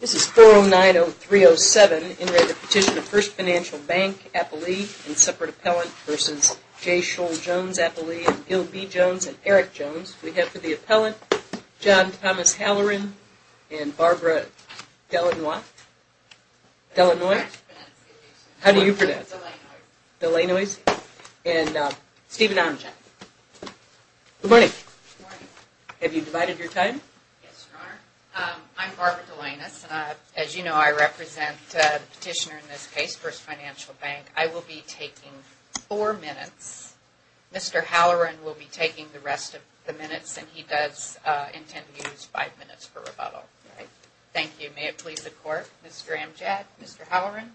This is 4090307 N.A. v. Petition of First Financial Bank N.A. v. J. Scholl Jones N.A. v. Gil B. Jones N.A. v. Eric Jones We have for the appellant John Thomas Halloran and Barbara Delanois. How do you pronounce? Delanois. And Stephen Amjad. Good morning. Good morning. Have you divided your time? Yes, Your Honor. I'm Barbara Delanois. As you know, I represent the petitioner in this case, First Financial Bank. I will be taking four minutes. Mr. Halloran will be taking the rest of the minutes, and he does intend to use five minutes for rebuttal. All right. Thank you. May it please the Court, Mr. Amjad, Mr. Halloran.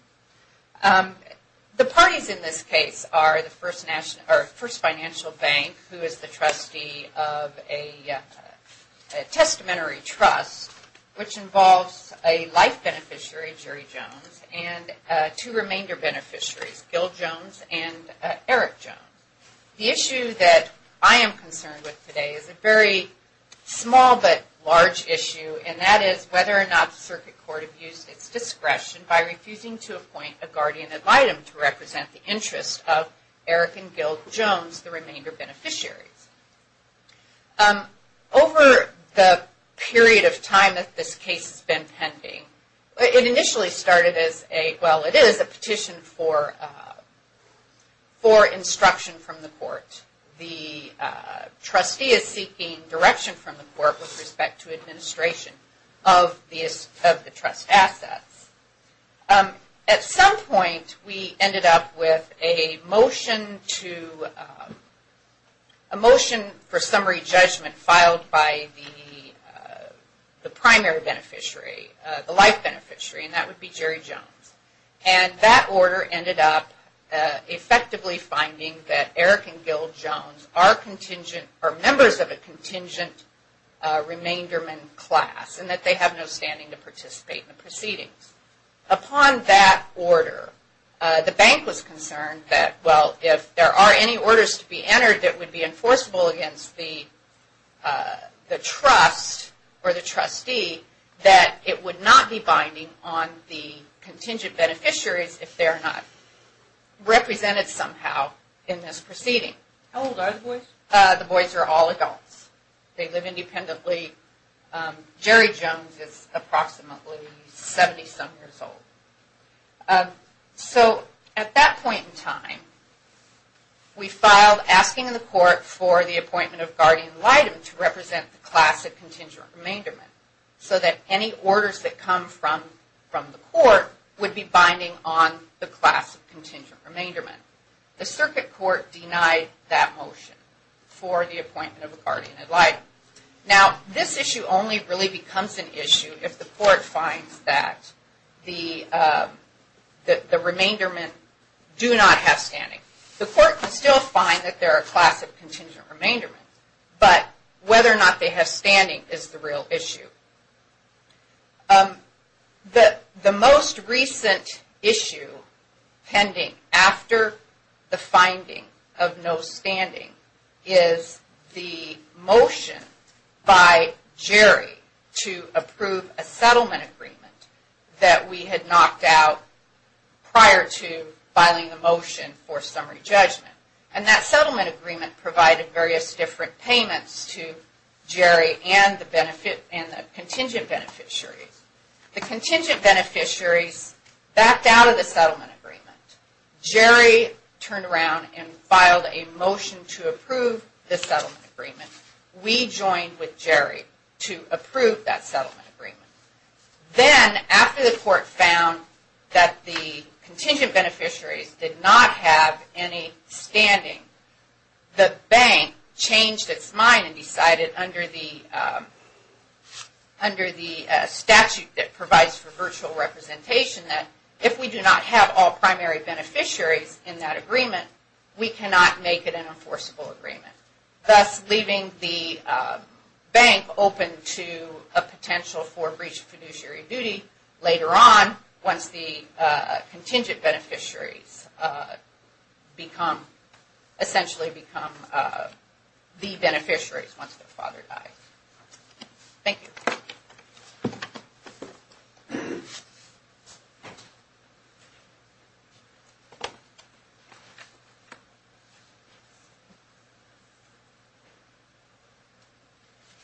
The parties in this case are First Financial Bank, who is the trustee of a testamentary trust, which involves a life beneficiary, Jerry Jones, and two remainder beneficiaries, Gil Jones and Eric Jones. The issue that I am concerned with today is a very small but large issue, and that is whether or not the circuit court abused its discretion by refusing to appoint a guardian ad litem to represent the interests of Eric and Gil Jones, the remainder beneficiaries. Over the period of time that this case has been pending, it initially started as a, well, it is a petition for instruction from the court. The trustee is seeking direction from the court with respect to administration of the trust assets. At some point, we ended up with a motion for summary judgment filed by the primary beneficiary, the life beneficiary, and that would be Jerry Jones. And that order ended up effectively finding that Eric and Gil Jones are members of a contingent remainderman class and that they have no standing to participate in the proceedings. Upon that order, the bank was concerned that, well, if there are any orders to be entered that would be enforceable against the trust or the trustee, that it would not be binding on the contingent beneficiaries if they are not represented somehow in this proceeding. How old are the boys? The boys are all adults. They live independently. Jerry Jones is approximately 70-some years old. So, at that point in time, we filed asking the court for the appointment of guardian ad litem to represent the class of contingent remainderman so that any orders that come from the court would be binding on the class of contingent remainderman. The circuit court denied that motion for the appointment of a guardian ad litem. Now, this issue only really becomes an issue if the court finds that the remainderman do not have standing. The court can still find that they are a class of contingent remainderman, but whether or not they have standing is the real issue. The most recent issue pending after the finding of no standing is the motion by Jerry to approve a settlement agreement that we had knocked out prior to filing the motion for summary judgment. And that settlement agreement provided various different payments to Jerry and the contingent beneficiaries. The contingent beneficiaries backed out of the settlement agreement. Jerry turned around and filed a motion to approve the settlement agreement. We joined with Jerry to approve that settlement agreement. Then, after the court found that the contingent beneficiaries did not have any standing, the bank changed its mind and decided under the statute that provides for virtual representation that if we do not have all primary beneficiaries in that agreement, we cannot make it an enforceable agreement. Thus, leaving the bank open to a potential for breach of fiduciary duty later on once the contingent beneficiaries essentially become the beneficiaries once their father dies. Thank you.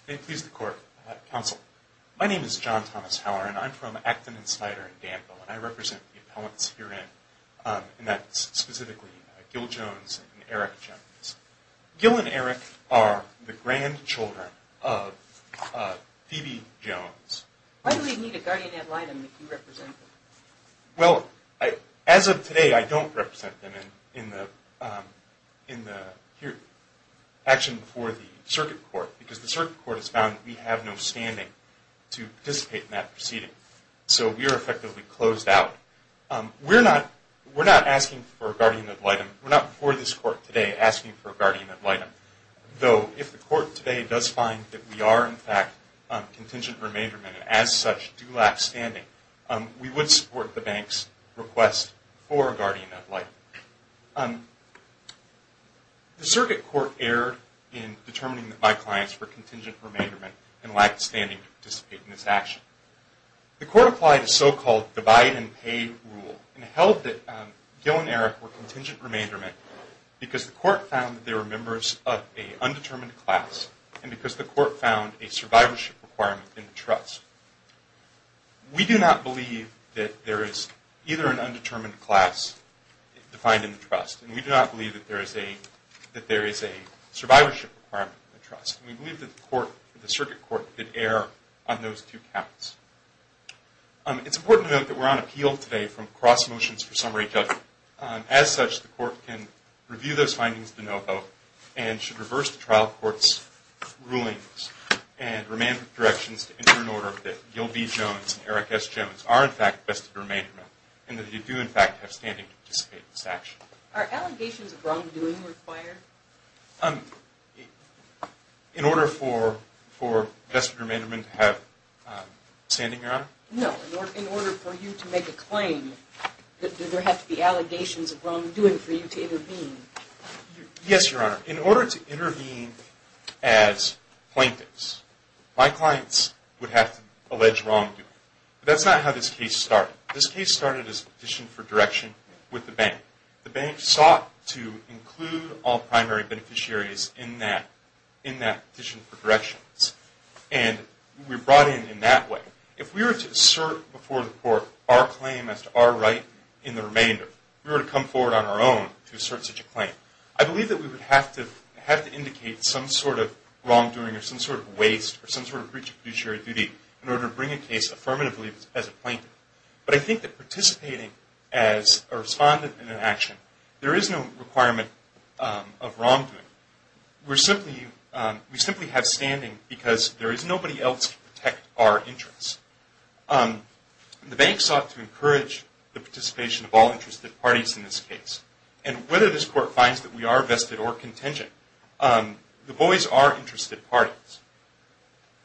May it please the court, counsel. My name is John Thomas Howard and I'm from Acton and Snyder in Danville. And I represent the appellants herein, and that's specifically Gil Jones and Eric Jones. Gil and Eric are the grandchildren of Phoebe Jones. Why do we need a guardian ad litem if you represent them? Well, as of today, I don't represent them in the action before the circuit court because the circuit court has found that we have no standing to participate in that proceeding. So we are effectively closed out. We're not asking for a guardian ad litem. We're not before this court today asking for a guardian ad litem. Though, if the court today does find that we are, in fact, contingent remaindermen and as such do lack standing, we would support the bank's request for a guardian ad litem. The circuit court erred in determining that my clients were contingent remaindermen and lacked standing to participate in this action. The court applied a so-called divide-and-pay rule and held that Gil and Eric were contingent remaindermen because the court found that they were members of an undetermined class and because the court found a survivorship requirement in the trust. We do not believe that there is either an undetermined class defined in the trust, and we do not believe that there is a survivorship requirement in the trust. We believe that the circuit court could err on those two counts. It's important to note that we're on appeal today from cross motions for summary judgment. As such, the court can review those findings to know about and should reverse the trial court's rulings and remand with directions to enter an order that Gil B. Jones and Eric S. Jones are, in fact, vested remaindermen and that they do, in fact, have standing to participate in this action. Are allegations of wrongdoing required? In order for vested remaindermen to have standing, Your Honor? No, in order for you to make a claim, Yes, Your Honor. In order to intervene as plaintiffs, my clients would have to allege wrongdoing. That's not how this case started. This case started as a petition for direction with the bank. The bank sought to include all primary beneficiaries in that petition for directions, and we were brought in in that way. If we were to assert before the court our claim as to our right in the remainder, if we were to come forward on our own to assert such a claim, I believe that we would have to indicate some sort of wrongdoing or some sort of waste or some sort of breach of fiduciary duty in order to bring a case affirmatively as a plaintiff. But I think that participating as a respondent in an action, there is no requirement of wrongdoing. We simply have standing because there is nobody else to protect our interests. The bank sought to encourage the participation of all interested parties in this case. And whether this court finds that we are vested or contingent, the boys are interested parties.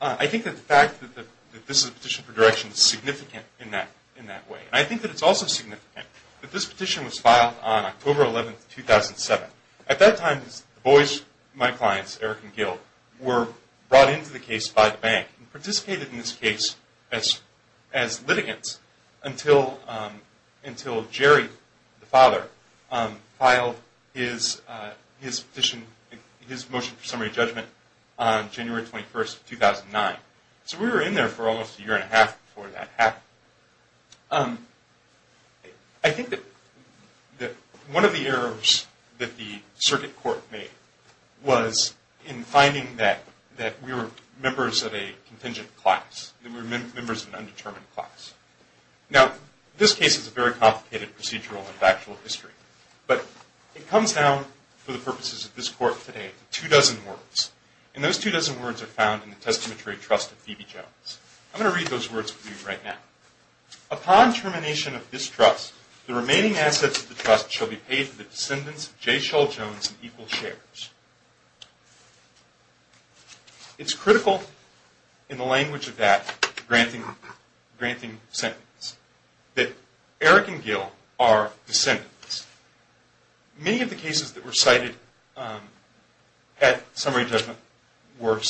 I think that the fact that this is a petition for direction is significant in that way. And I think that it's also significant that this petition was filed on October 11, 2007. At that time, the boys, my clients, Eric and Gil, were brought into the case by the bank and participated in this case as litigants until Jerry, the father, filed his motion for summary judgment on January 21, 2009. So we were in there for almost a year and a half before that happened. I think that one of the errors that the circuit court made was in finding that we were members of a contingent class, that we were members of an undetermined class. Now, this case is a very complicated procedural and factual history. But it comes down, for the purposes of this court today, to two dozen words. And those two dozen words are found in the testamentary trust of Phoebe Jones. I'm going to read those words for you right now. Upon termination of this trust, the remaining assets of the trust shall be paid to the descendants of J. Shull Jones in equal shares. It's critical in the language of that granting sentence that Eric and Gil are descendants. Many of the cases that were cited at summary judgment were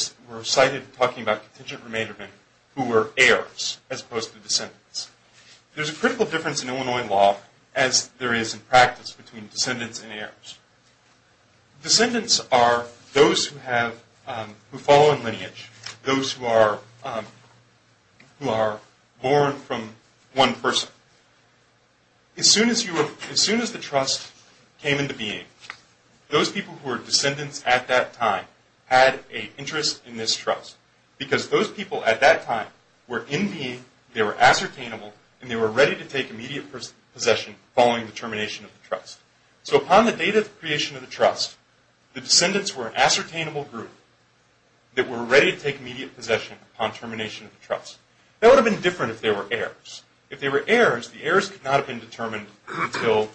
cited talking about contingent remainder men who were heirs as opposed to descendants. There's a critical difference in Illinois law, as there is in practice, between descendants and heirs. Descendants are those who follow in lineage, those who are born from one person. As soon as the trust came into being, those people who were descendants at that time had an interest in this trust. Because those people at that time were in being, they were ascertainable, and they were ready to take immediate possession following the termination of the trust. So upon the date of the creation of the trust, the descendants were an ascertainable group that were ready to take immediate possession upon termination of the trust. That would have been different if they were heirs. If they were heirs, the heirs could not have been determined until,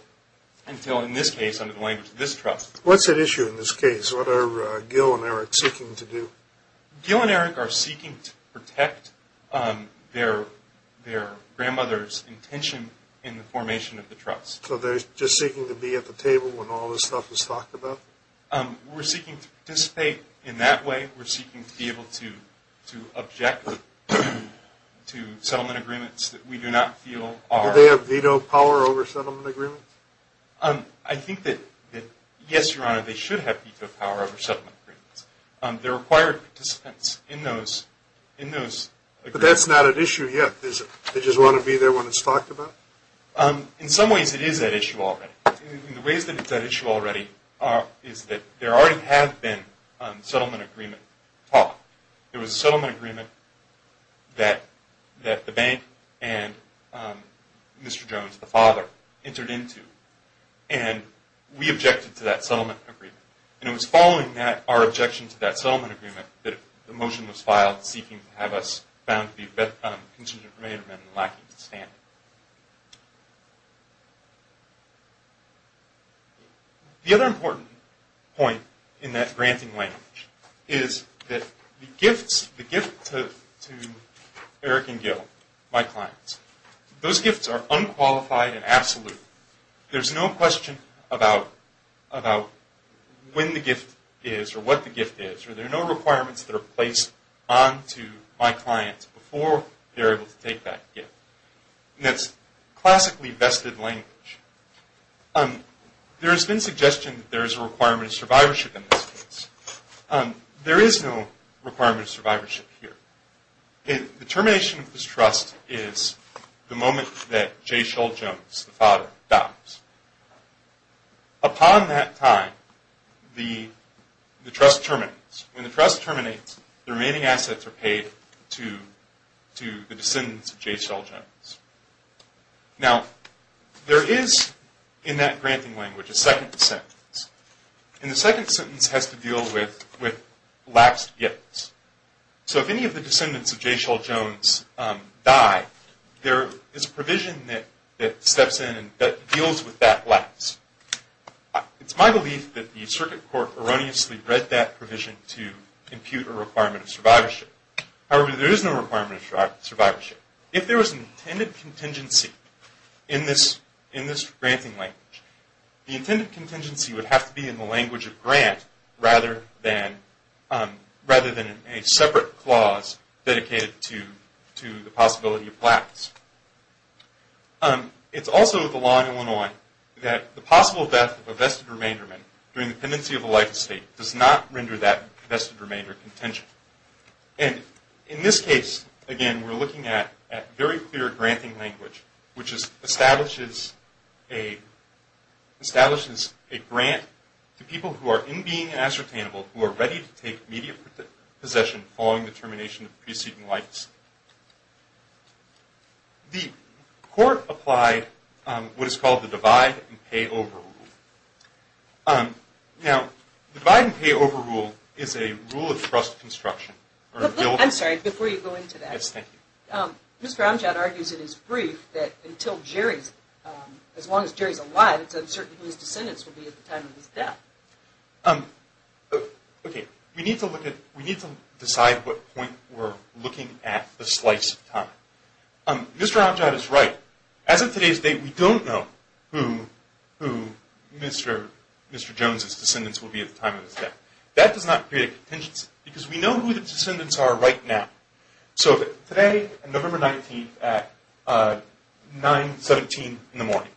in this case, under the language of this trust. What's at issue in this case? What are Gil and Eric seeking to do? Gil and Eric are seeking to protect their grandmother's intention in the formation of the trust. So they're just seeking to be at the table when all this stuff is talked about? We're seeking to participate in that way. We're seeking to be able to object to settlement agreements that we do not feel are... Do they have veto power over settlement agreements? I think that, yes, Your Honor, they should have veto power over settlement agreements. They're required participants in those agreements. But that's not at issue yet, is it? They just want to be there when it's talked about? In some ways, it is at issue already. In the ways that it's at issue already is that there already have been settlement agreement talks. There was a settlement agreement that the bank and Mr. Jones, the father, entered into, and we objected to that settlement agreement. And it was following that, our objection to that settlement agreement, that a motion was filed seeking to have us found to be a contingent of remainder men lacking to stand. The other important point in that granting language is that the gifts, the gift to Eric and Gil, my clients, those gifts are unqualified and absolute. There's no question about when the gift is or what the gift is, or there are no requirements that are placed onto my clients before they're able to take that gift. And that's classically vested language. There has been suggestion that there is a requirement of survivorship in this case. There is no requirement of survivorship here. The termination of this trust is the moment that J. Shull Jones, the father, dies. Upon that time, the trust terminates. When the trust terminates, the remaining assets are paid to the descendants of J. Shull Jones. Now, there is, in that granting language, a second sentence. And the second sentence has to deal with lapsed gifts. So if any of the descendants of J. Shull Jones die, there is a provision that steps in that deals with that lapse. It's my belief that the circuit court erroneously read that provision to impute a requirement of survivorship. However, there is no requirement of survivorship. If there was an intended contingency in this granting language, the intended contingency would have to be in the language of grant rather than a separate clause dedicated to the possibility of lapse. It's also the law in Illinois that the possible death of a vested remainder during the pendency of a life estate does not render that vested remainder contingent. And in this case, again, we're looking at very clear granting language, which establishes a grant to people who are in being ascertainable, who are ready to take immediate possession following the termination of preceding life estate. The court applied what is called the divide-and-pay-over rule. Now, the divide-and-pay-over rule is a rule of trust construction. I'm sorry, before you go into that. Yes, thank you. Mr. Amjad argues in his brief that until Jerry's, as long as Jerry's alive, it's uncertain whose descendants will be at the time of his death. Okay, we need to decide what point we're looking at the slice of time. Mr. Amjad is right. As of today's date, we don't know who Mr. Jones's descendants will be at the time of his death. That does not create a contingency because we know who the descendants are right now. So today, November 19th at 9.17 in the morning,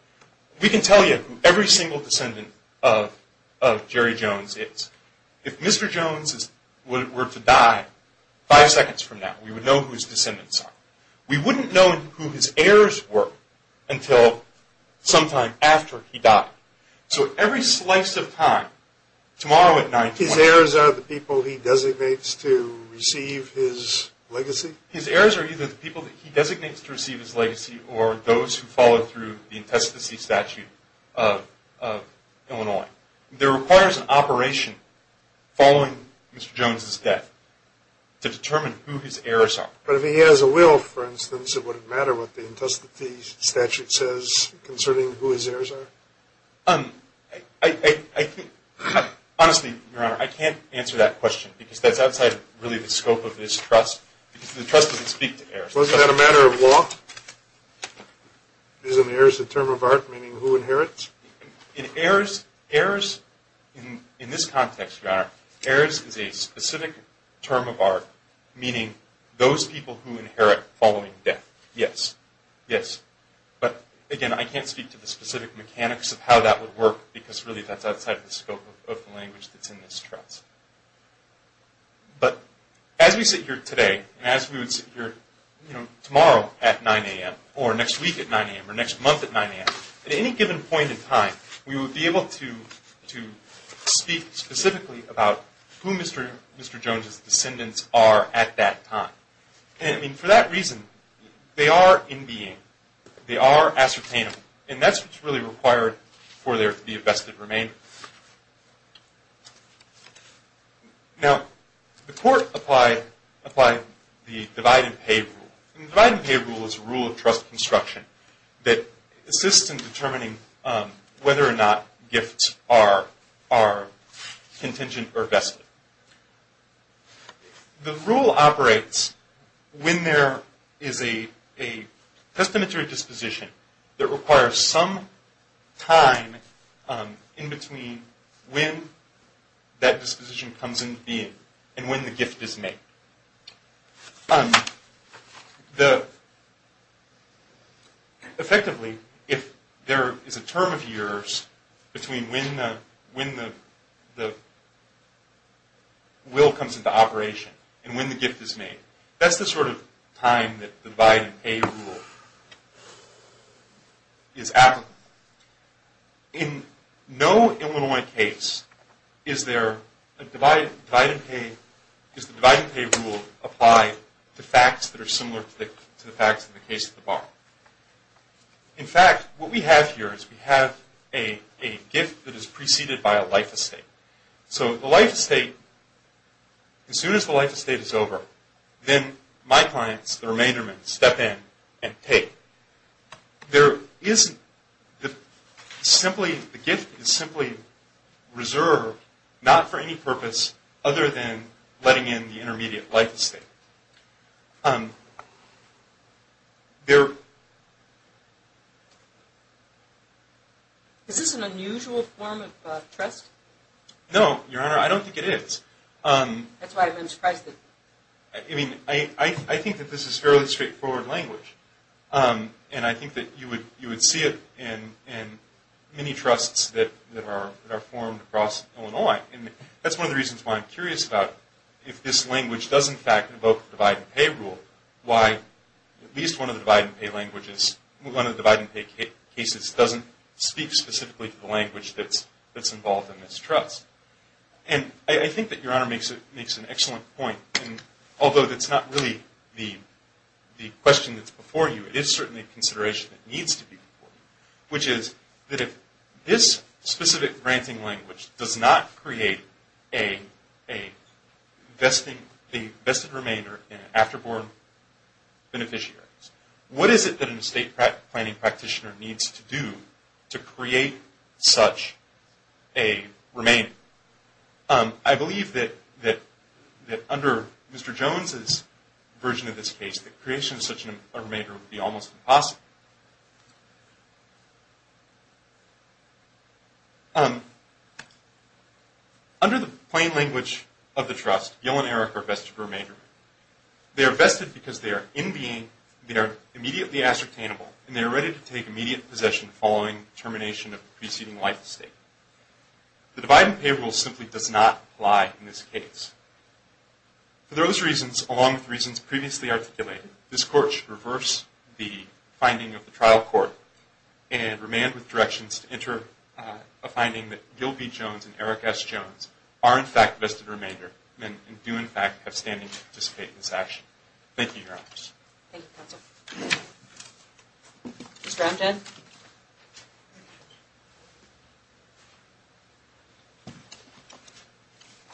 we can tell you who every single descendant of Jerry Jones is. If Mr. Jones were to die five seconds from now, we would know whose descendants are. We wouldn't know who his heirs were until sometime after he died. So every slice of time, tomorrow at 9.20… His heirs are the people he designates to receive his legacy? His heirs are either the people that he designates to receive his legacy or those who follow through the intestacy statute of Illinois. There requires an operation following Mr. Jones's death to determine who his heirs are. But if he has a will, for instance, it wouldn't matter what the intestacy statute says concerning who his heirs are? Honestly, Your Honor, I can't answer that question because that's outside really the scope of this trust. The trust doesn't speak to heirs. Wasn't that a matter of law? Isn't heirs a term of art meaning who inherits? In heirs, in this context, Your Honor, heirs is a specific term of art meaning those people who inherit following death. Yes. Yes. But again, I can't speak to the specific mechanics of how that would work because really that's outside the scope of the language that's in this trust. But as we sit here today and as we would sit here tomorrow at 9 a.m. or next week at 9 a.m. or next month at 9 a.m., at any given point in time, we would be able to speak specifically about who Mr. Jones's descendants are at that time. And for that reason, they are in being. They are ascertainable. And that's what's really required for there to be a vested remainder. Now, the Court applied the divide-and-pay rule. The divide-and-pay rule is a rule of trust construction that assists in determining whether or not gifts are contingent or vested. The rule operates when there is a testamentary disposition that requires some time in between when that disposition comes into being and when the gift is made. Effectively, if there is a term of years between when the will comes into operation and when the gift is made, that's the sort of time that the divide-and-pay rule is applicable. In no Illinois case is the divide-and-pay rule applied to facts that are similar to the facts in the case of the bar. In fact, what we have here is we have a gift that is preceded by a life estate. So the life estate, as soon as the life estate is over, then my clients, the remaindermen, step in and pay. The gift is simply reserved, not for any purpose other than letting in the intermediate life estate. Is this an unusual form of trust? No, Your Honor, I don't think it is. That's why I've been surprised. I mean, I think that this is fairly straightforward language. And I think that you would see it in many trusts that are formed across Illinois. And that's one of the reasons why I'm curious about if this language does in fact invoke the divide-and-pay rule, why at least one of the divide-and-pay cases doesn't speak specifically to the language that's involved in this trust. And I think that Your Honor makes an excellent point. And although that's not really the question that's before you, it is certainly a consideration that needs to be before you, which is that if this specific granting language does not create a vested remainder in an afterborn beneficiary, what is it that an estate planning practitioner needs to do to create such a remainder? I believe that under Mr. Jones's version of this case, the creation of such a remainder would be almost impossible. Under the plain language of the trust, Gil and Eric are vested remainder. They are vested because they are in being, they are immediately ascertainable, and they are ready to take immediate possession following termination of the preceding life estate. The divide-and-pay rule simply does not apply in this case. For those reasons, along with reasons previously articulated, this Court should reverse the finding of the trial court and remand with directions to enter a finding that Gil B. Jones and Eric S. Jones are in fact vested remainder and do in fact have standing to participate in this action. Thank you, Your Honors. Thank you, Counsel. Mr. Amjad.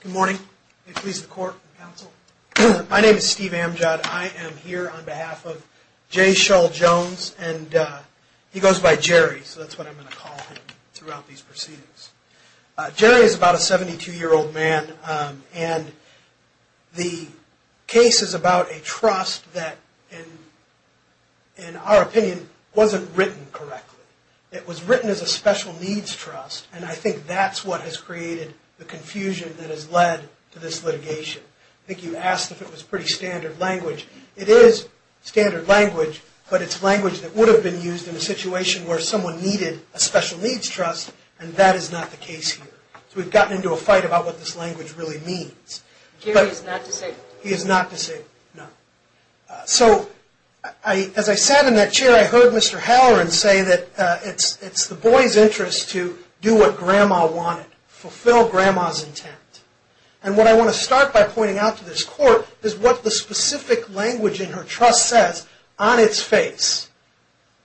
Good morning. May it please the Court and Counsel. My name is Steve Amjad. I am here on behalf of J. Shull Jones, and he goes by Jerry, so that's what I'm going to call him throughout these proceedings. Jerry is about a 72-year-old man, and the case is about a trust that, in our opinion, wasn't written correctly. It was written as a special needs trust, and I think that's what has created the confusion that has led to this litigation. I think you asked if it was pretty standard language. It is standard language, but it's language that would have been used in a situation where someone needed a special needs trust, and that is not the case here. So we've gotten into a fight about what this language really means. Jerry is not disabled. He is not disabled, no. So as I sat in that chair, I heard Mr. Halloran say that it's the boy's interest to do what Grandma wanted, fulfill Grandma's intent. And what I want to start by pointing out to this Court is what the specific language in her trust says on its face.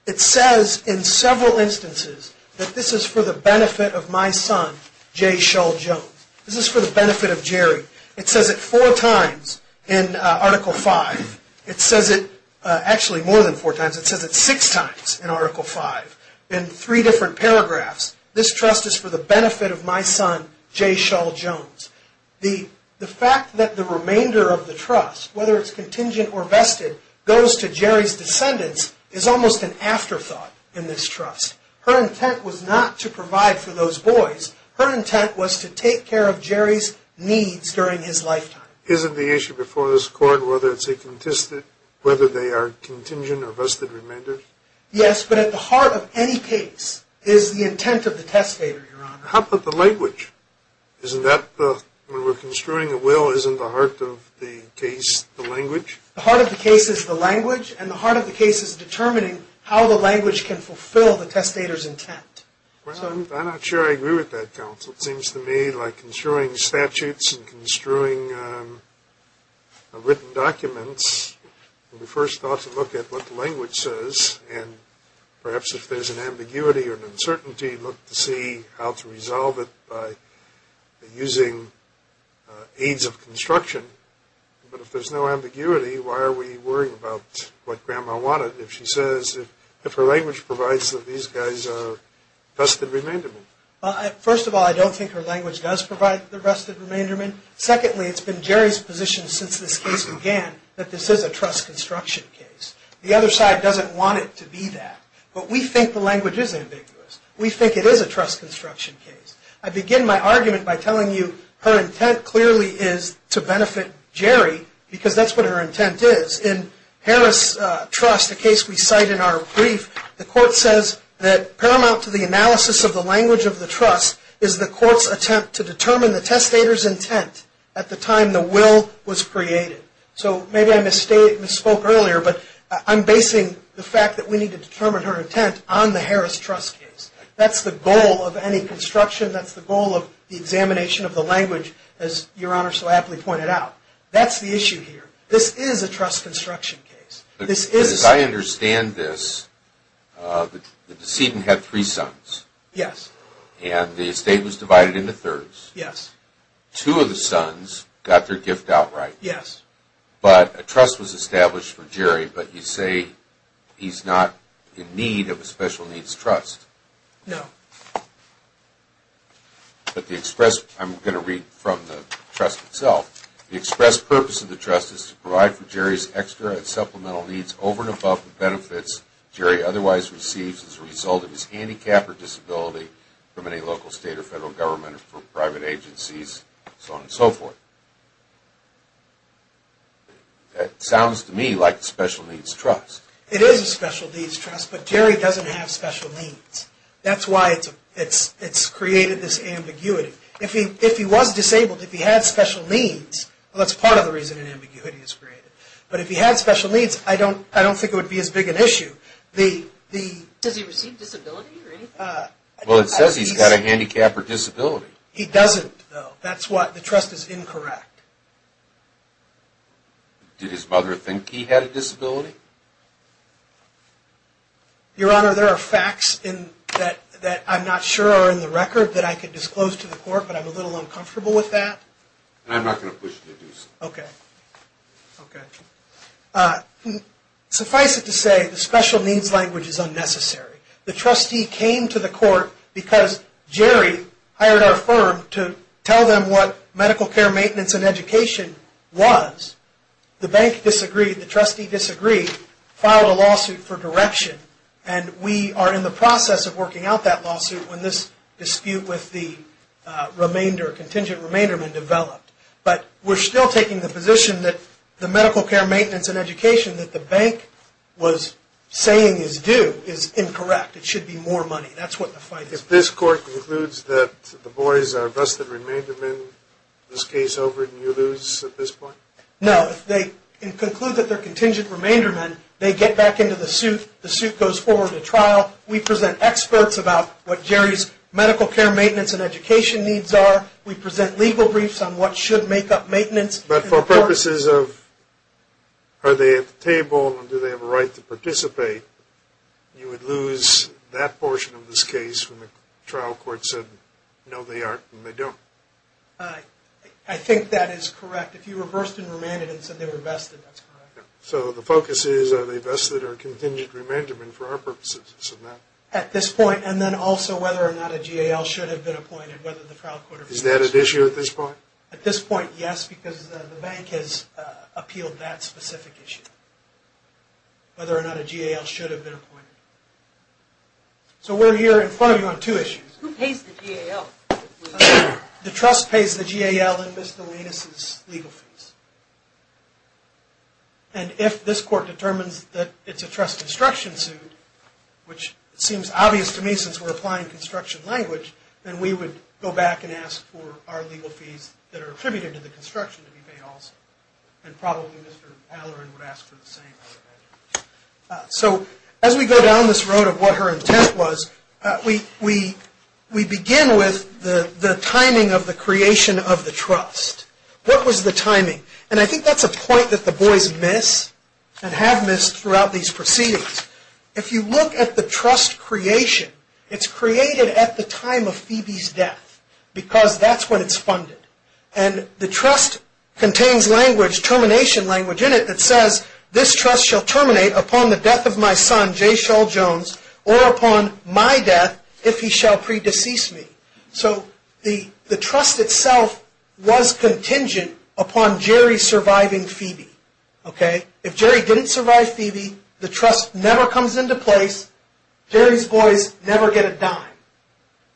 It says in several instances that this is for the benefit of my son, J. Shull Jones. This is for the benefit of Jerry. It says it four times in Article 5. It says it actually more than four times. It says it six times in Article 5 in three different paragraphs. This trust is for the benefit of my son, J. Shull Jones. The fact that the remainder of the trust, whether it's contingent or vested, goes to Jerry's descendants is almost an afterthought in this trust. Her intent was not to provide for those boys. Her intent was to take care of Jerry's needs during his lifetime. Isn't the issue before this Court whether they are contingent or vested remainders? Yes, but at the heart of any case is the intent of the testator, Your Honor. How about the language? When we're construing a will, isn't the heart of the case the language? The heart of the case is the language, and the heart of the case is determining how the language can fulfill the testator's intent. I'm not sure I agree with that, counsel. It seems to me like construing statutes and construing written documents, we first ought to look at what the language says, and perhaps if there's an ambiguity or an uncertainty, look to see how to resolve it by using aids of construction. But if there's no ambiguity, why are we worrying about what Grandma wanted if her language provides that these guys are vested remaindermen? First of all, I don't think her language does provide the vested remaindermen. Secondly, it's been Jerry's position since this case began that this is a trust construction case. The other side doesn't want it to be that, but we think the language is ambiguous. We think it is a trust construction case. I begin my argument by telling you her intent clearly is to benefit Jerry, because that's what her intent is. In Harris Trust, a case we cite in our brief, the court says that paramount to the analysis of the language of the trust is the court's attempt to determine the testator's intent at the time the will was created. So maybe I misspoke earlier, but I'm basing the fact that we need to determine her intent on the Harris Trust case. That's the goal of any construction. That's the goal of the examination of the language, as Your Honor so aptly pointed out. That's the issue here. This is a trust construction case. As I understand this, the decedent had three sons. Yes. And the estate was divided into thirds. Yes. Two of the sons got their gift outright. Yes. But a trust was established for Jerry, but you say he's not in need of a special needs trust. No. I'm going to read from the trust itself. The express purpose of the trust is to provide for Jerry's extra and supplemental needs over and above the benefits Jerry otherwise receives as a result of his handicap or disability from any local, state, or federal government or private agencies, so on and so forth. That sounds to me like a special needs trust. It is a special needs trust, but Jerry doesn't have special needs. That's why it's created this ambiguity. If he was disabled, if he had special needs, well, that's part of the reason an ambiguity is created. But if he had special needs, I don't think it would be as big an issue. Does he receive disability or anything? Well, it says he's got a handicap or disability. He doesn't, though. That's why the trust is incorrect. Did his mother think he had a disability? Your Honor, there are facts that I'm not sure are in the record that I could disclose to the court, but I'm a little uncomfortable with that. I'm not going to push you to do so. Okay. Suffice it to say, the special needs language is unnecessary. The trustee came to the court because Jerry hired our firm to tell them what medical care maintenance and education was. The bank disagreed, the trustee disagreed, filed a lawsuit for direction, and we are in the process of working out that lawsuit when this dispute with the contingent remainderman developed. But we're still taking the position that the medical care maintenance and education that the bank was saying is due is incorrect. It should be more money. That's what the fight is about. If this court concludes that the boys are busted remaindermen, this case over, do you lose at this point? No. If they conclude that they're contingent remaindermen, they get back into the suit. The suit goes forward to trial. We present experts about what Jerry's medical care maintenance and education needs are. We present legal briefs on what should make up maintenance. But for purposes of are they at the table and do they have a right to participate, you would lose that portion of this case when the trial court said no they aren't and they don't. I think that is correct. If you reversed and remanded and said they were vested, that's correct. So the focus is are they vested or contingent remaindermen for our purposes? At this point, and then also whether or not a GAL should have been appointed. Is that an issue at this point? At this point, yes, because the bank has appealed that specific issue, whether or not a GAL should have been appointed. So we're here in front of you on two issues. Who pays the GAL? The trust pays the GAL and Mr. Lienus' legal fees. And if this court determines that it's a trust construction suit, which seems obvious to me since we're applying construction language, then we would go back and ask for our legal fees that are attributed to the construction to be paid also. And probably Mr. Allerin would ask for the same. So as we go down this road of what her intent was, we begin with the timing of the creation of the trust. What was the timing? And I think that's a point that the boys miss and have missed throughout these proceedings. If you look at the trust creation, it's created at the time of Phoebe's death, because that's when it's funded. And the trust contains language, termination language in it, that says this trust shall terminate upon the death of my son, Jayshall Jones, or upon my death if he shall pre-decease me. So the trust itself was contingent upon Jerry surviving Phoebe. If Jerry didn't survive Phoebe, the trust never comes into place. Jerry's boys never get a dime.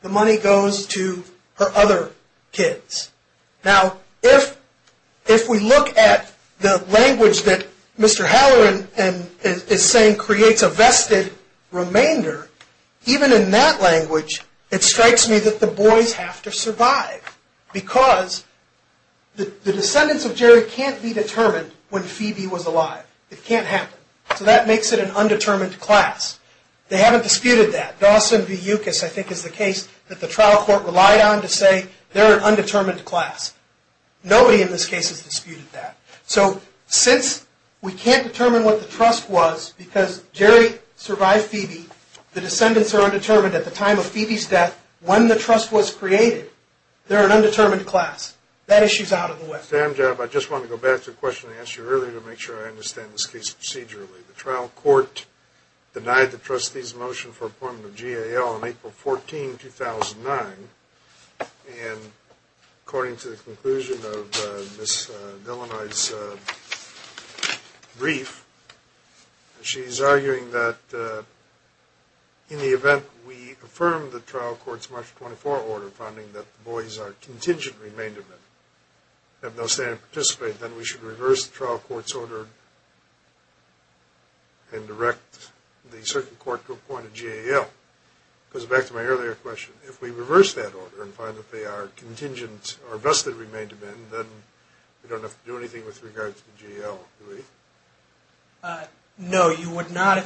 The money goes to her other kids. Now, if we look at the language that Mr. Allerin is saying creates a vested remainder, even in that language, it strikes me that the boys have to survive, because the descendants of Jerry can't be determined when Phoebe was alive. It can't happen. So that makes it an undetermined class. They haven't disputed that. Dawson v. Ucas, I think, is the case that the trial court relied on to say, they're an undetermined class. Nobody in this case has disputed that. So since we can't determine what the trust was because Jerry survived Phoebe, the descendants are undetermined at the time of Phoebe's death, when the trust was created, they're an undetermined class. That issue's out of the way. Mr. Amjab, I just want to go back to a question I asked you earlier to make sure I understand this case procedurally. The trial court denied the trustee's motion for appointment of GAL on April 14, 2009, and according to the conclusion of Ms. Delanoy's brief, she's arguing that in the event we affirm the trial court's March 24 order finding that the boys are contingent remain-to-men, have no standing to participate, then we should reverse the trial court's order and direct the circuit court to appoint a GAL. It goes back to my earlier question. If we reverse that order and find that they are contingent or vested remain-to-men, then we don't have to do anything with regard to the GAL, do we? No, you would not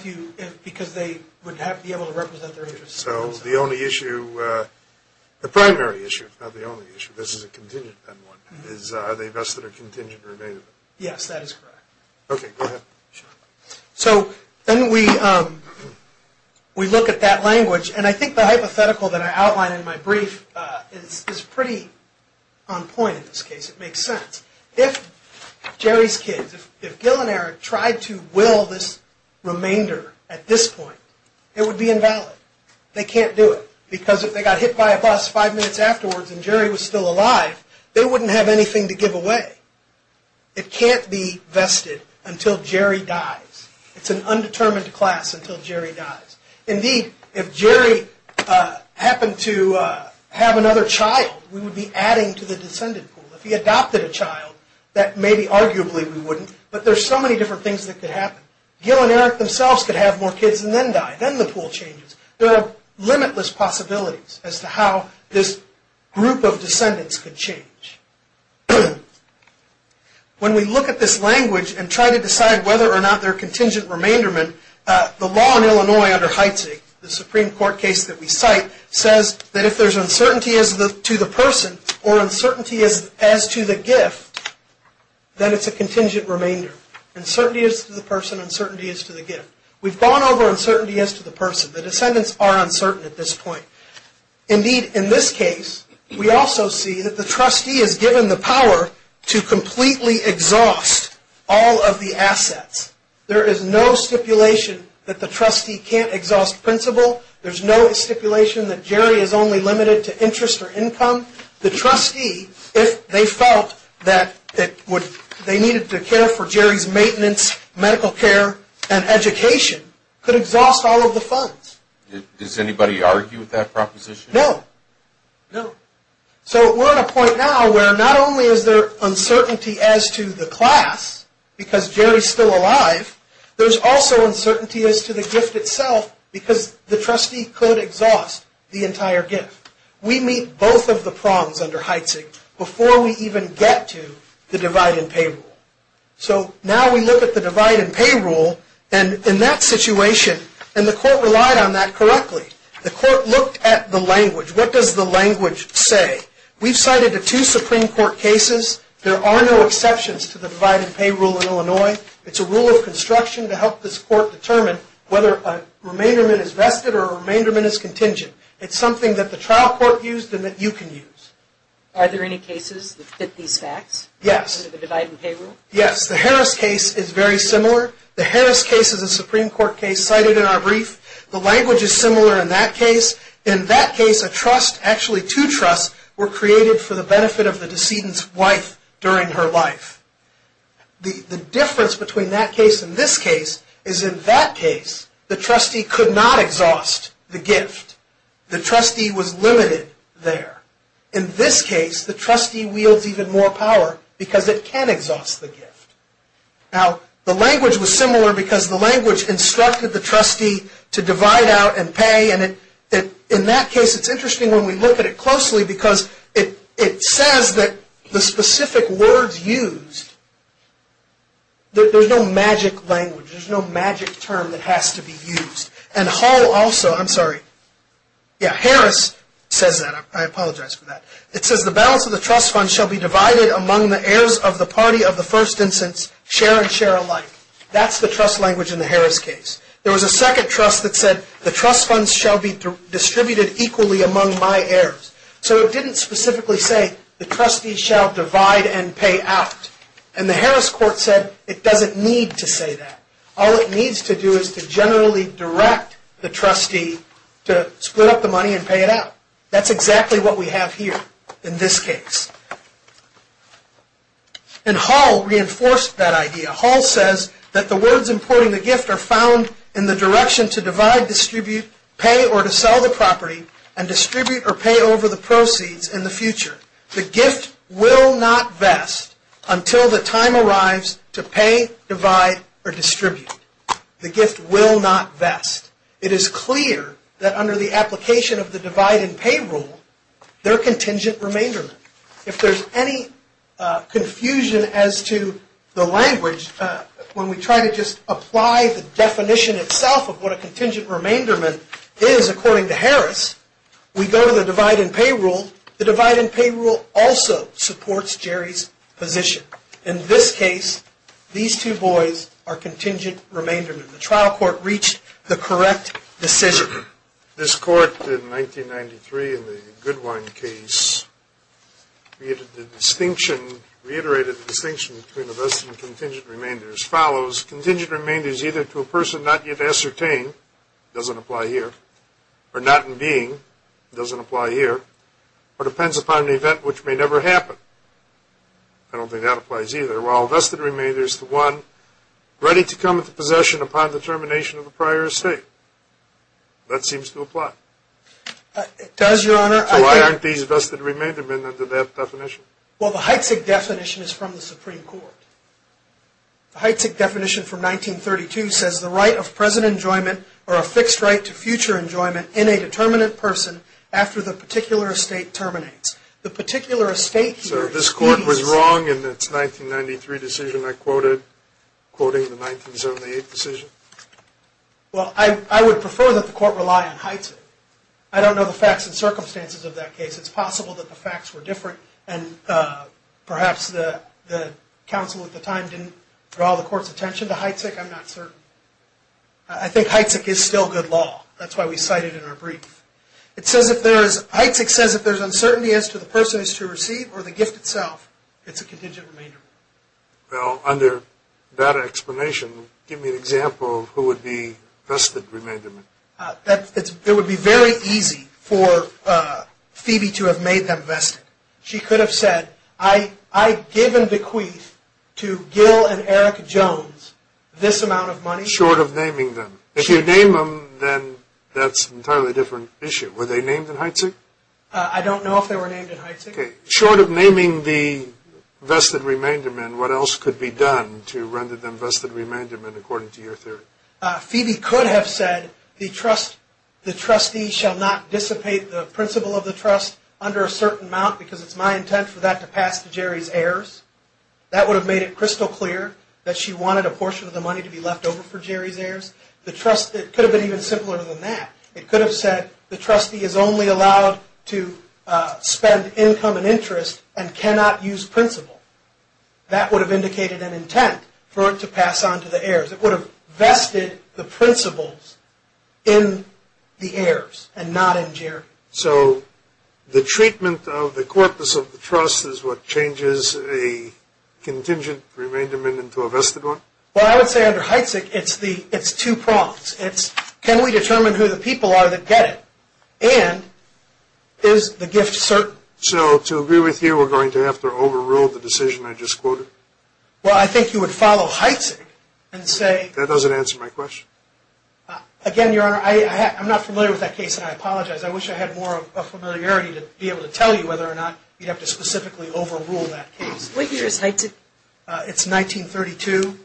because they would have to be able to represent their interests. So the only issue, the primary issue, not the only issue, this is a contingent one, is are they vested or contingent remain-to-men? Yes, that is correct. Okay, go ahead. So then we look at that language, and I think the hypothetical that I outlined in my brief is pretty on point in this case. It makes sense. If Jerry's kids, if Gil and Eric tried to will this remainder at this point, it would be invalid. They can't do it because if they got hit by a bus five minutes afterwards and Jerry was still alive, they wouldn't have anything to give away. It can't be vested until Jerry dies. It's an undetermined class until Jerry dies. Indeed, if Jerry happened to have another child, we would be adding to the descendant pool. If he adopted a child, that maybe arguably we wouldn't, but there are so many different things that could happen. Gil and Eric themselves could have more kids and then die. Then the pool changes. There are limitless possibilities as to how this group of descendants could change. When we look at this language and try to decide whether or not they're contingent remain-to-men, the law in Illinois under Heitzig, the Supreme Court case that we cite, says that if there's uncertainty to the person or uncertainty as to the gift, then it's a contingent remainder. Uncertainty as to the person, uncertainty as to the gift. We've gone over uncertainty as to the person. The descendants are uncertain at this point. Indeed, in this case, we also see that the trustee is given the power to completely exhaust all of the assets. There is no stipulation that the trustee can't exhaust principal. There's no stipulation that Jerry is only limited to interest or income. The trustee, if they felt that they needed to care for Jerry's maintenance, medical care, and education, could exhaust all of the funds. Does anybody argue with that proposition? No. No. So we're at a point now where not only is there uncertainty as to the class because Jerry's still alive, there's also uncertainty as to the gift itself because the trustee could exhaust the entire gift. We meet both of the prongs under Heitzig before we even get to the divide-and-pay rule. So now we look at the divide-and-pay rule, and in that situation, and the court relied on that correctly. The court looked at the language. What does the language say? We've cited the two Supreme Court cases. There are no exceptions to the divide-and-pay rule in Illinois. It's a rule of construction to help this court determine whether a remainderment is vested or a remainderment is contingent. It's something that the trial court used and that you can use. Are there any cases that fit these facts? Yes. Under the divide-and-pay rule? Yes. The Harris case is very similar. The Harris case is a Supreme Court case cited in our brief. The language is similar in that case. In that case, a trust, actually two trusts, were created for the benefit of the decedent's wife during her life. The difference between that case and this case is in that case, the trustee could not exhaust the gift. The trustee was limited there. In this case, the trustee wields even more power because it can exhaust the gift. Now, the language was similar because the language instructed the trustee to divide out and pay, and in that case, it's interesting when we look at it closely because it says that the specific words used, there's no magic language. There's no magic term that has to be used. And Hall also, I'm sorry. Yeah, Harris says that. I apologize for that. It says the balance of the trust fund shall be divided among the heirs of the party of the first instance, share and share alike. That's the trust language in the Harris case. There was a second trust that said the trust funds shall be distributed equally among my heirs. So it didn't specifically say the trustee shall divide and pay out. And the Harris court said it doesn't need to say that. All it needs to do is to generally direct the trustee to split up the money and pay it out. That's exactly what we have here in this case. And Hall reinforced that idea. Hall says that the words importing the gift are found in the direction to divide, distribute, pay, or to sell the property and distribute or pay over the proceeds in the future. The gift will not vest until the time arrives to pay, divide, or distribute. The gift will not vest. It is clear that under the application of the divide and pay rule, they're contingent remainder. If there's any confusion as to the language, when we try to just apply the definition itself of what a contingent remainder is according to Harris, we go to the divide and pay rule. The divide and pay rule also supports Jerry's position. In this case, these two boys are contingent remainder. The trial court reached the correct decision. This court, in 1993, in the Goodwine case, reiterated the distinction between a vest and a contingent remainder as follows. Contingent remainder is either to a person not yet ascertained. It doesn't apply here. Or not in being. It doesn't apply here. Or depends upon an event which may never happen. I don't think that applies either. Well, vested remainder is the one ready to come into possession upon the termination of the prior estate. That seems to apply. It does, Your Honor. So why aren't these vested remainder men under that definition? Well, the Heitzig definition is from the Supreme Court. The Heitzig definition from 1932 says the right of present enjoyment or a fixed right to future enjoyment in a determinate person after the particular estate terminates. So this court was wrong in its 1993 decision I quoted, quoting the 1978 decision? Well, I would prefer that the court rely on Heitzig. I don't know the facts and circumstances of that case. It's possible that the facts were different and perhaps the counsel at the time didn't draw the court's attention to Heitzig. I'm not certain. I think Heitzig is still good law. That's why we cite it in our brief. Heitzig says if there's uncertainty as to the person who is to receive or the gift itself, it's a contingent remainder. Well, under that explanation, give me an example of who would be vested remainder men. It would be very easy for Phoebe to have made them vested. She could have said, I give in bequeath to Gil and Eric Jones this amount of money. Short of naming them. If you name them, then that's an entirely different issue. Were they named in Heitzig? I don't know if they were named in Heitzig. Short of naming the vested remainder men, what else could be done to render them vested remainder men according to your theory? Phoebe could have said the trustee shall not dissipate the principal of the trust under a certain amount because it's my intent for that to pass to Jerry's heirs. That would have made it crystal clear that she wanted a portion of the money to be left over for Jerry's heirs. It could have been even simpler than that. It could have said the trustee is only allowed to spend income and interest and cannot use principal. That would have indicated an intent for it to pass on to the heirs. It would have vested the principals in the heirs and not in Jerry. So the treatment of the corpus of the trust is what changes a contingent remainder men into a vested one? Well, I would say under Heitzig, it's two prongs. It's can we determine who the people are that get it? And is the gift certain? So to agree with you, we're going to have to overrule the decision I just quoted? Well, I think you would follow Heitzig and say – That doesn't answer my question. Again, Your Honor, I'm not familiar with that case, and I apologize. I wish I had more of a familiarity to be able to tell you whether or not you'd have to specifically overrule that case. What year is Heitzig? It's 1932.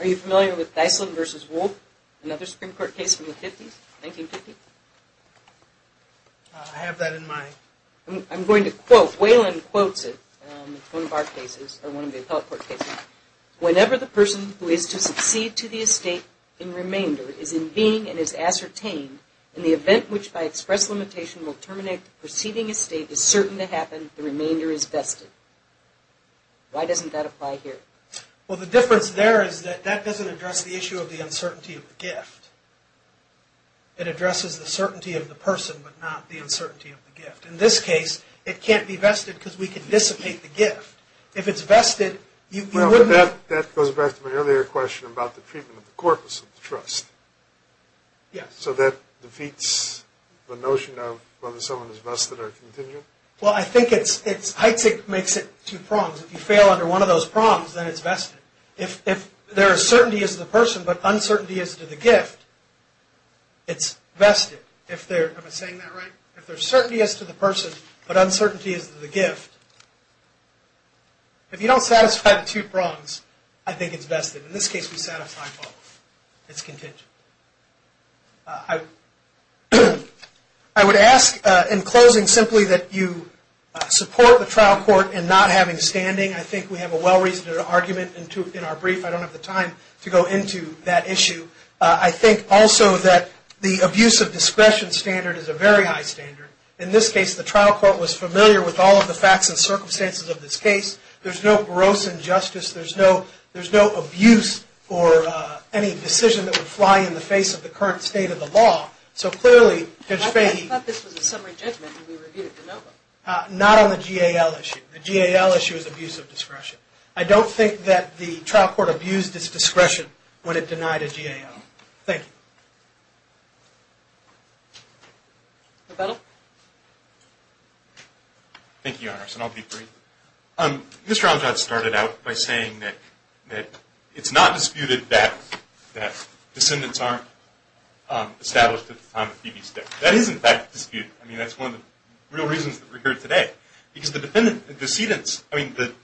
Are you familiar with Dyson v. Wolfe, another Supreme Court case from the 1950s? I have that in mind. I'm going to quote. Whalen quotes it. It's one of our cases, or one of the appellate court cases. Whenever the person who is to succeed to the estate in remainder is in being and is ascertained, and the event which by express limitation will terminate the preceding estate is certain to happen, the remainder is vested. Why doesn't that apply here? Well, the difference there is that that doesn't address the issue of the uncertainty of the gift. It addresses the certainty of the person, but not the uncertainty of the gift. In this case, it can't be vested because we can dissipate the gift. If it's vested, you wouldn't – Well, that goes back to my earlier question about the treatment of the corpus of the trust. Yes. So that defeats the notion of whether someone is vested or contingent? Well, I think it's – Heitzig makes it two prongs. If you fail under one of those prongs, then it's vested. If there is certainty as to the person but uncertainty as to the gift, it's vested. Am I saying that right? If there's certainty as to the person but uncertainty as to the gift, if you don't satisfy the two prongs, I think it's vested. In this case, we satisfy both. It's contingent. I would ask, in closing, simply that you support the trial court in not having standing. I think we have a well-reasoned argument in our brief. I don't have the time to go into that issue. I think also that the abuse of discretion standard is a very high standard. In this case, the trial court was familiar with all of the facts and circumstances of this case. There's no gross injustice. There's no abuse or any decision that would fly in the face of the current state of the law. So, clearly, Judge Fahey – I thought this was a summary judgment and we reviewed it. No. Not on the GAL issue. The GAL issue is abuse of discretion. I don't think that the trial court abused its discretion when it denied a GAL. Thank you. Rebuttal. Thank you, Your Honors, and I'll be brief. Mr. Amjad started out by saying that it's not disputed that descendants aren't established at the time of Phoebe's death. That is, in fact, disputed. I mean, that's one of the real reasons that we're here today. Because the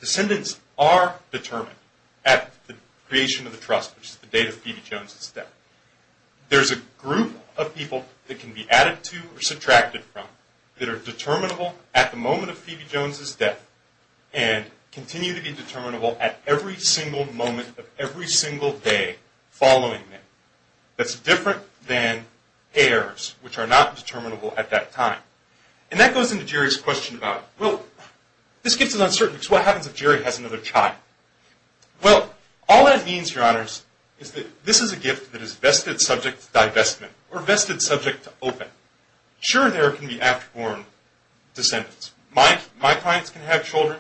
descendants are determined at the creation of the trust, which is the date of Phoebe Jones' death. There's a group of people that can be added to or subtracted from that are determinable at the moment of Phoebe Jones' death and continue to be determinable at every single moment of every single day following that. That's different than heirs, which are not determinable at that time. And that goes into Jerry's question about, well, this gift is uncertain because what happens if Jerry has another child? Well, all that means, Your Honors, is that this is a gift that is vested subject to divestment or vested subject to open. Sure, there can be afterborn descendants. My clients can have children.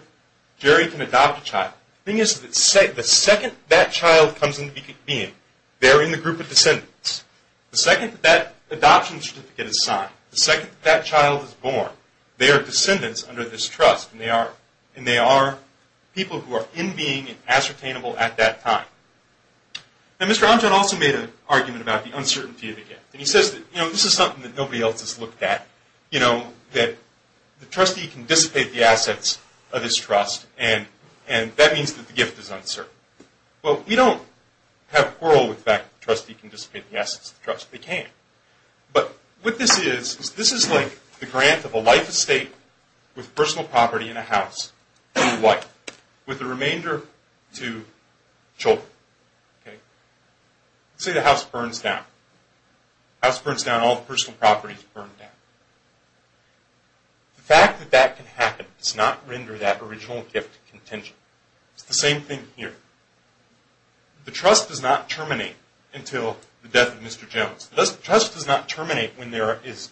Jerry can adopt a child. The thing is that the second that child comes into being, they're in the group of descendants. The second that adoption certificate is signed, the second that child is born, they are descendants under this trust. And they are people who are in being and ascertainable at that time. Now, Mr. Amjad also made an argument about the uncertainty of the gift. And he says that, you know, this is something that nobody else has looked at. You know, that the trustee can dissipate the assets of his trust, and that means that the gift is uncertain. Well, we don't have oral effect. The trustee can dissipate the assets of the trust. They can't. But what this is, is this is like the grant of a life estate with personal property and a house. And what? With the remainder to children. Say the house burns down. The house burns down, all the personal property is burned down. The fact that that can happen does not render that original gift contingent. It's the same thing here. The trust does not terminate until the death of Mr. Jones. The trust does not terminate when there is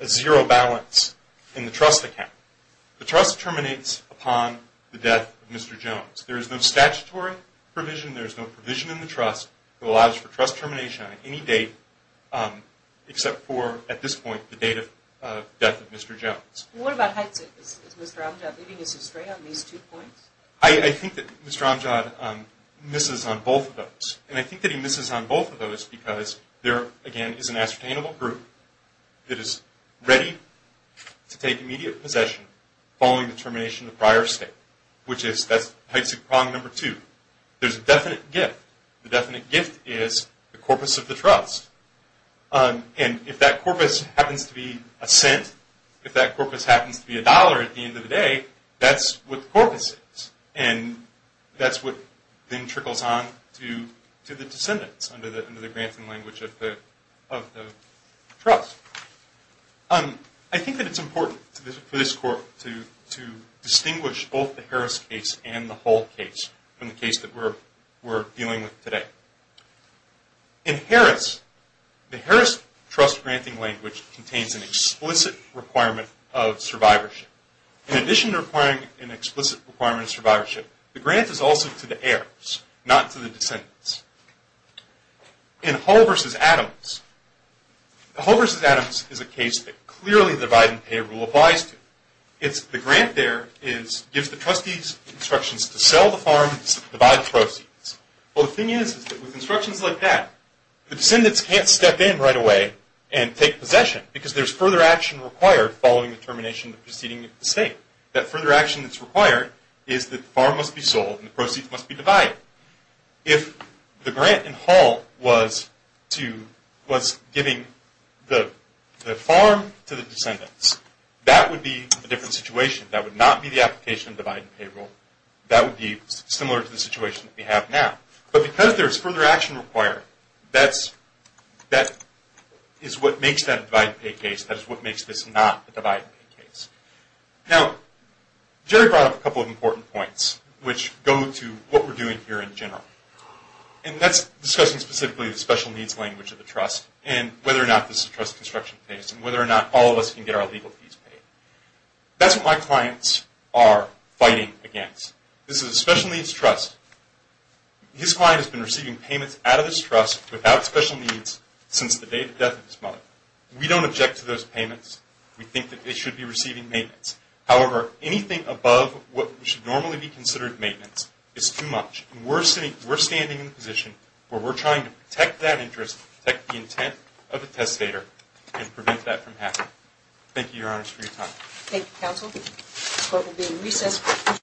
a zero balance in the trust account. The trust terminates upon the death of Mr. Jones. There is no statutory provision. There is no provision in the trust that allows for trust termination on any date, except for, at this point, the date of death of Mr. Jones. Well, what about Hudson? Is Mr. Amjad leading us astray on these two points? I think that Mr. Amjad misses on both of those. And I think that he misses on both of those because there, again, is an ascertainable group that is ready to take immediate possession following the termination of the prior estate, which is that's Heisig Prong number two. There's a definite gift. The definite gift is the corpus of the trust. And if that corpus happens to be a cent, if that corpus happens to be a dollar at the end of the day, that's what the corpus is. And that's what then trickles on to the descendants under the granting language of the trust. I think that it's important for this court to distinguish both the Harris case and the Hull case from the case that we're dealing with today. In Harris, the Harris trust granting language contains an explicit requirement of survivorship. In addition to requiring an explicit requirement of survivorship, the grant is also to the heirs, not to the descendants. In Hull v. Adams, the Hull v. Adams is a case that clearly the divide and pay rule applies to. The grant there gives the trustees instructions to sell the farms, divide the proceeds. Well, the thing is that with instructions like that, the descendants can't step in right away and take possession because there's further action required following the termination of the preceding estate. That further action that's required is that the farm must be sold and the proceeds must be divided. If the grant in Hull was giving the farm to the descendants, that would be a different situation. That would not be the application of the divide and pay rule. That would be similar to the situation that we have now. But because there's further action required, that is what makes that a divide and pay case. That is what makes this not a divide and pay case. Now, Jerry brought up a couple of important points, which go to what we're doing here in general. And that's discussing specifically the special needs language of the trust and whether or not this is a trust construction case and whether or not all of us can get our legal fees paid. That's what my clients are fighting against. This is a special needs trust. His client has been receiving payments out of this trust without special needs since the day of the death of his mother. We don't object to those payments. We think that they should be receiving maintenance. However, anything above what should normally be considered maintenance is too much. And we're standing in a position where we're trying to protect that interest, protect the intent of the testator, and prevent that from happening. Thank you, Your Honors, for your time. The court will be in recess.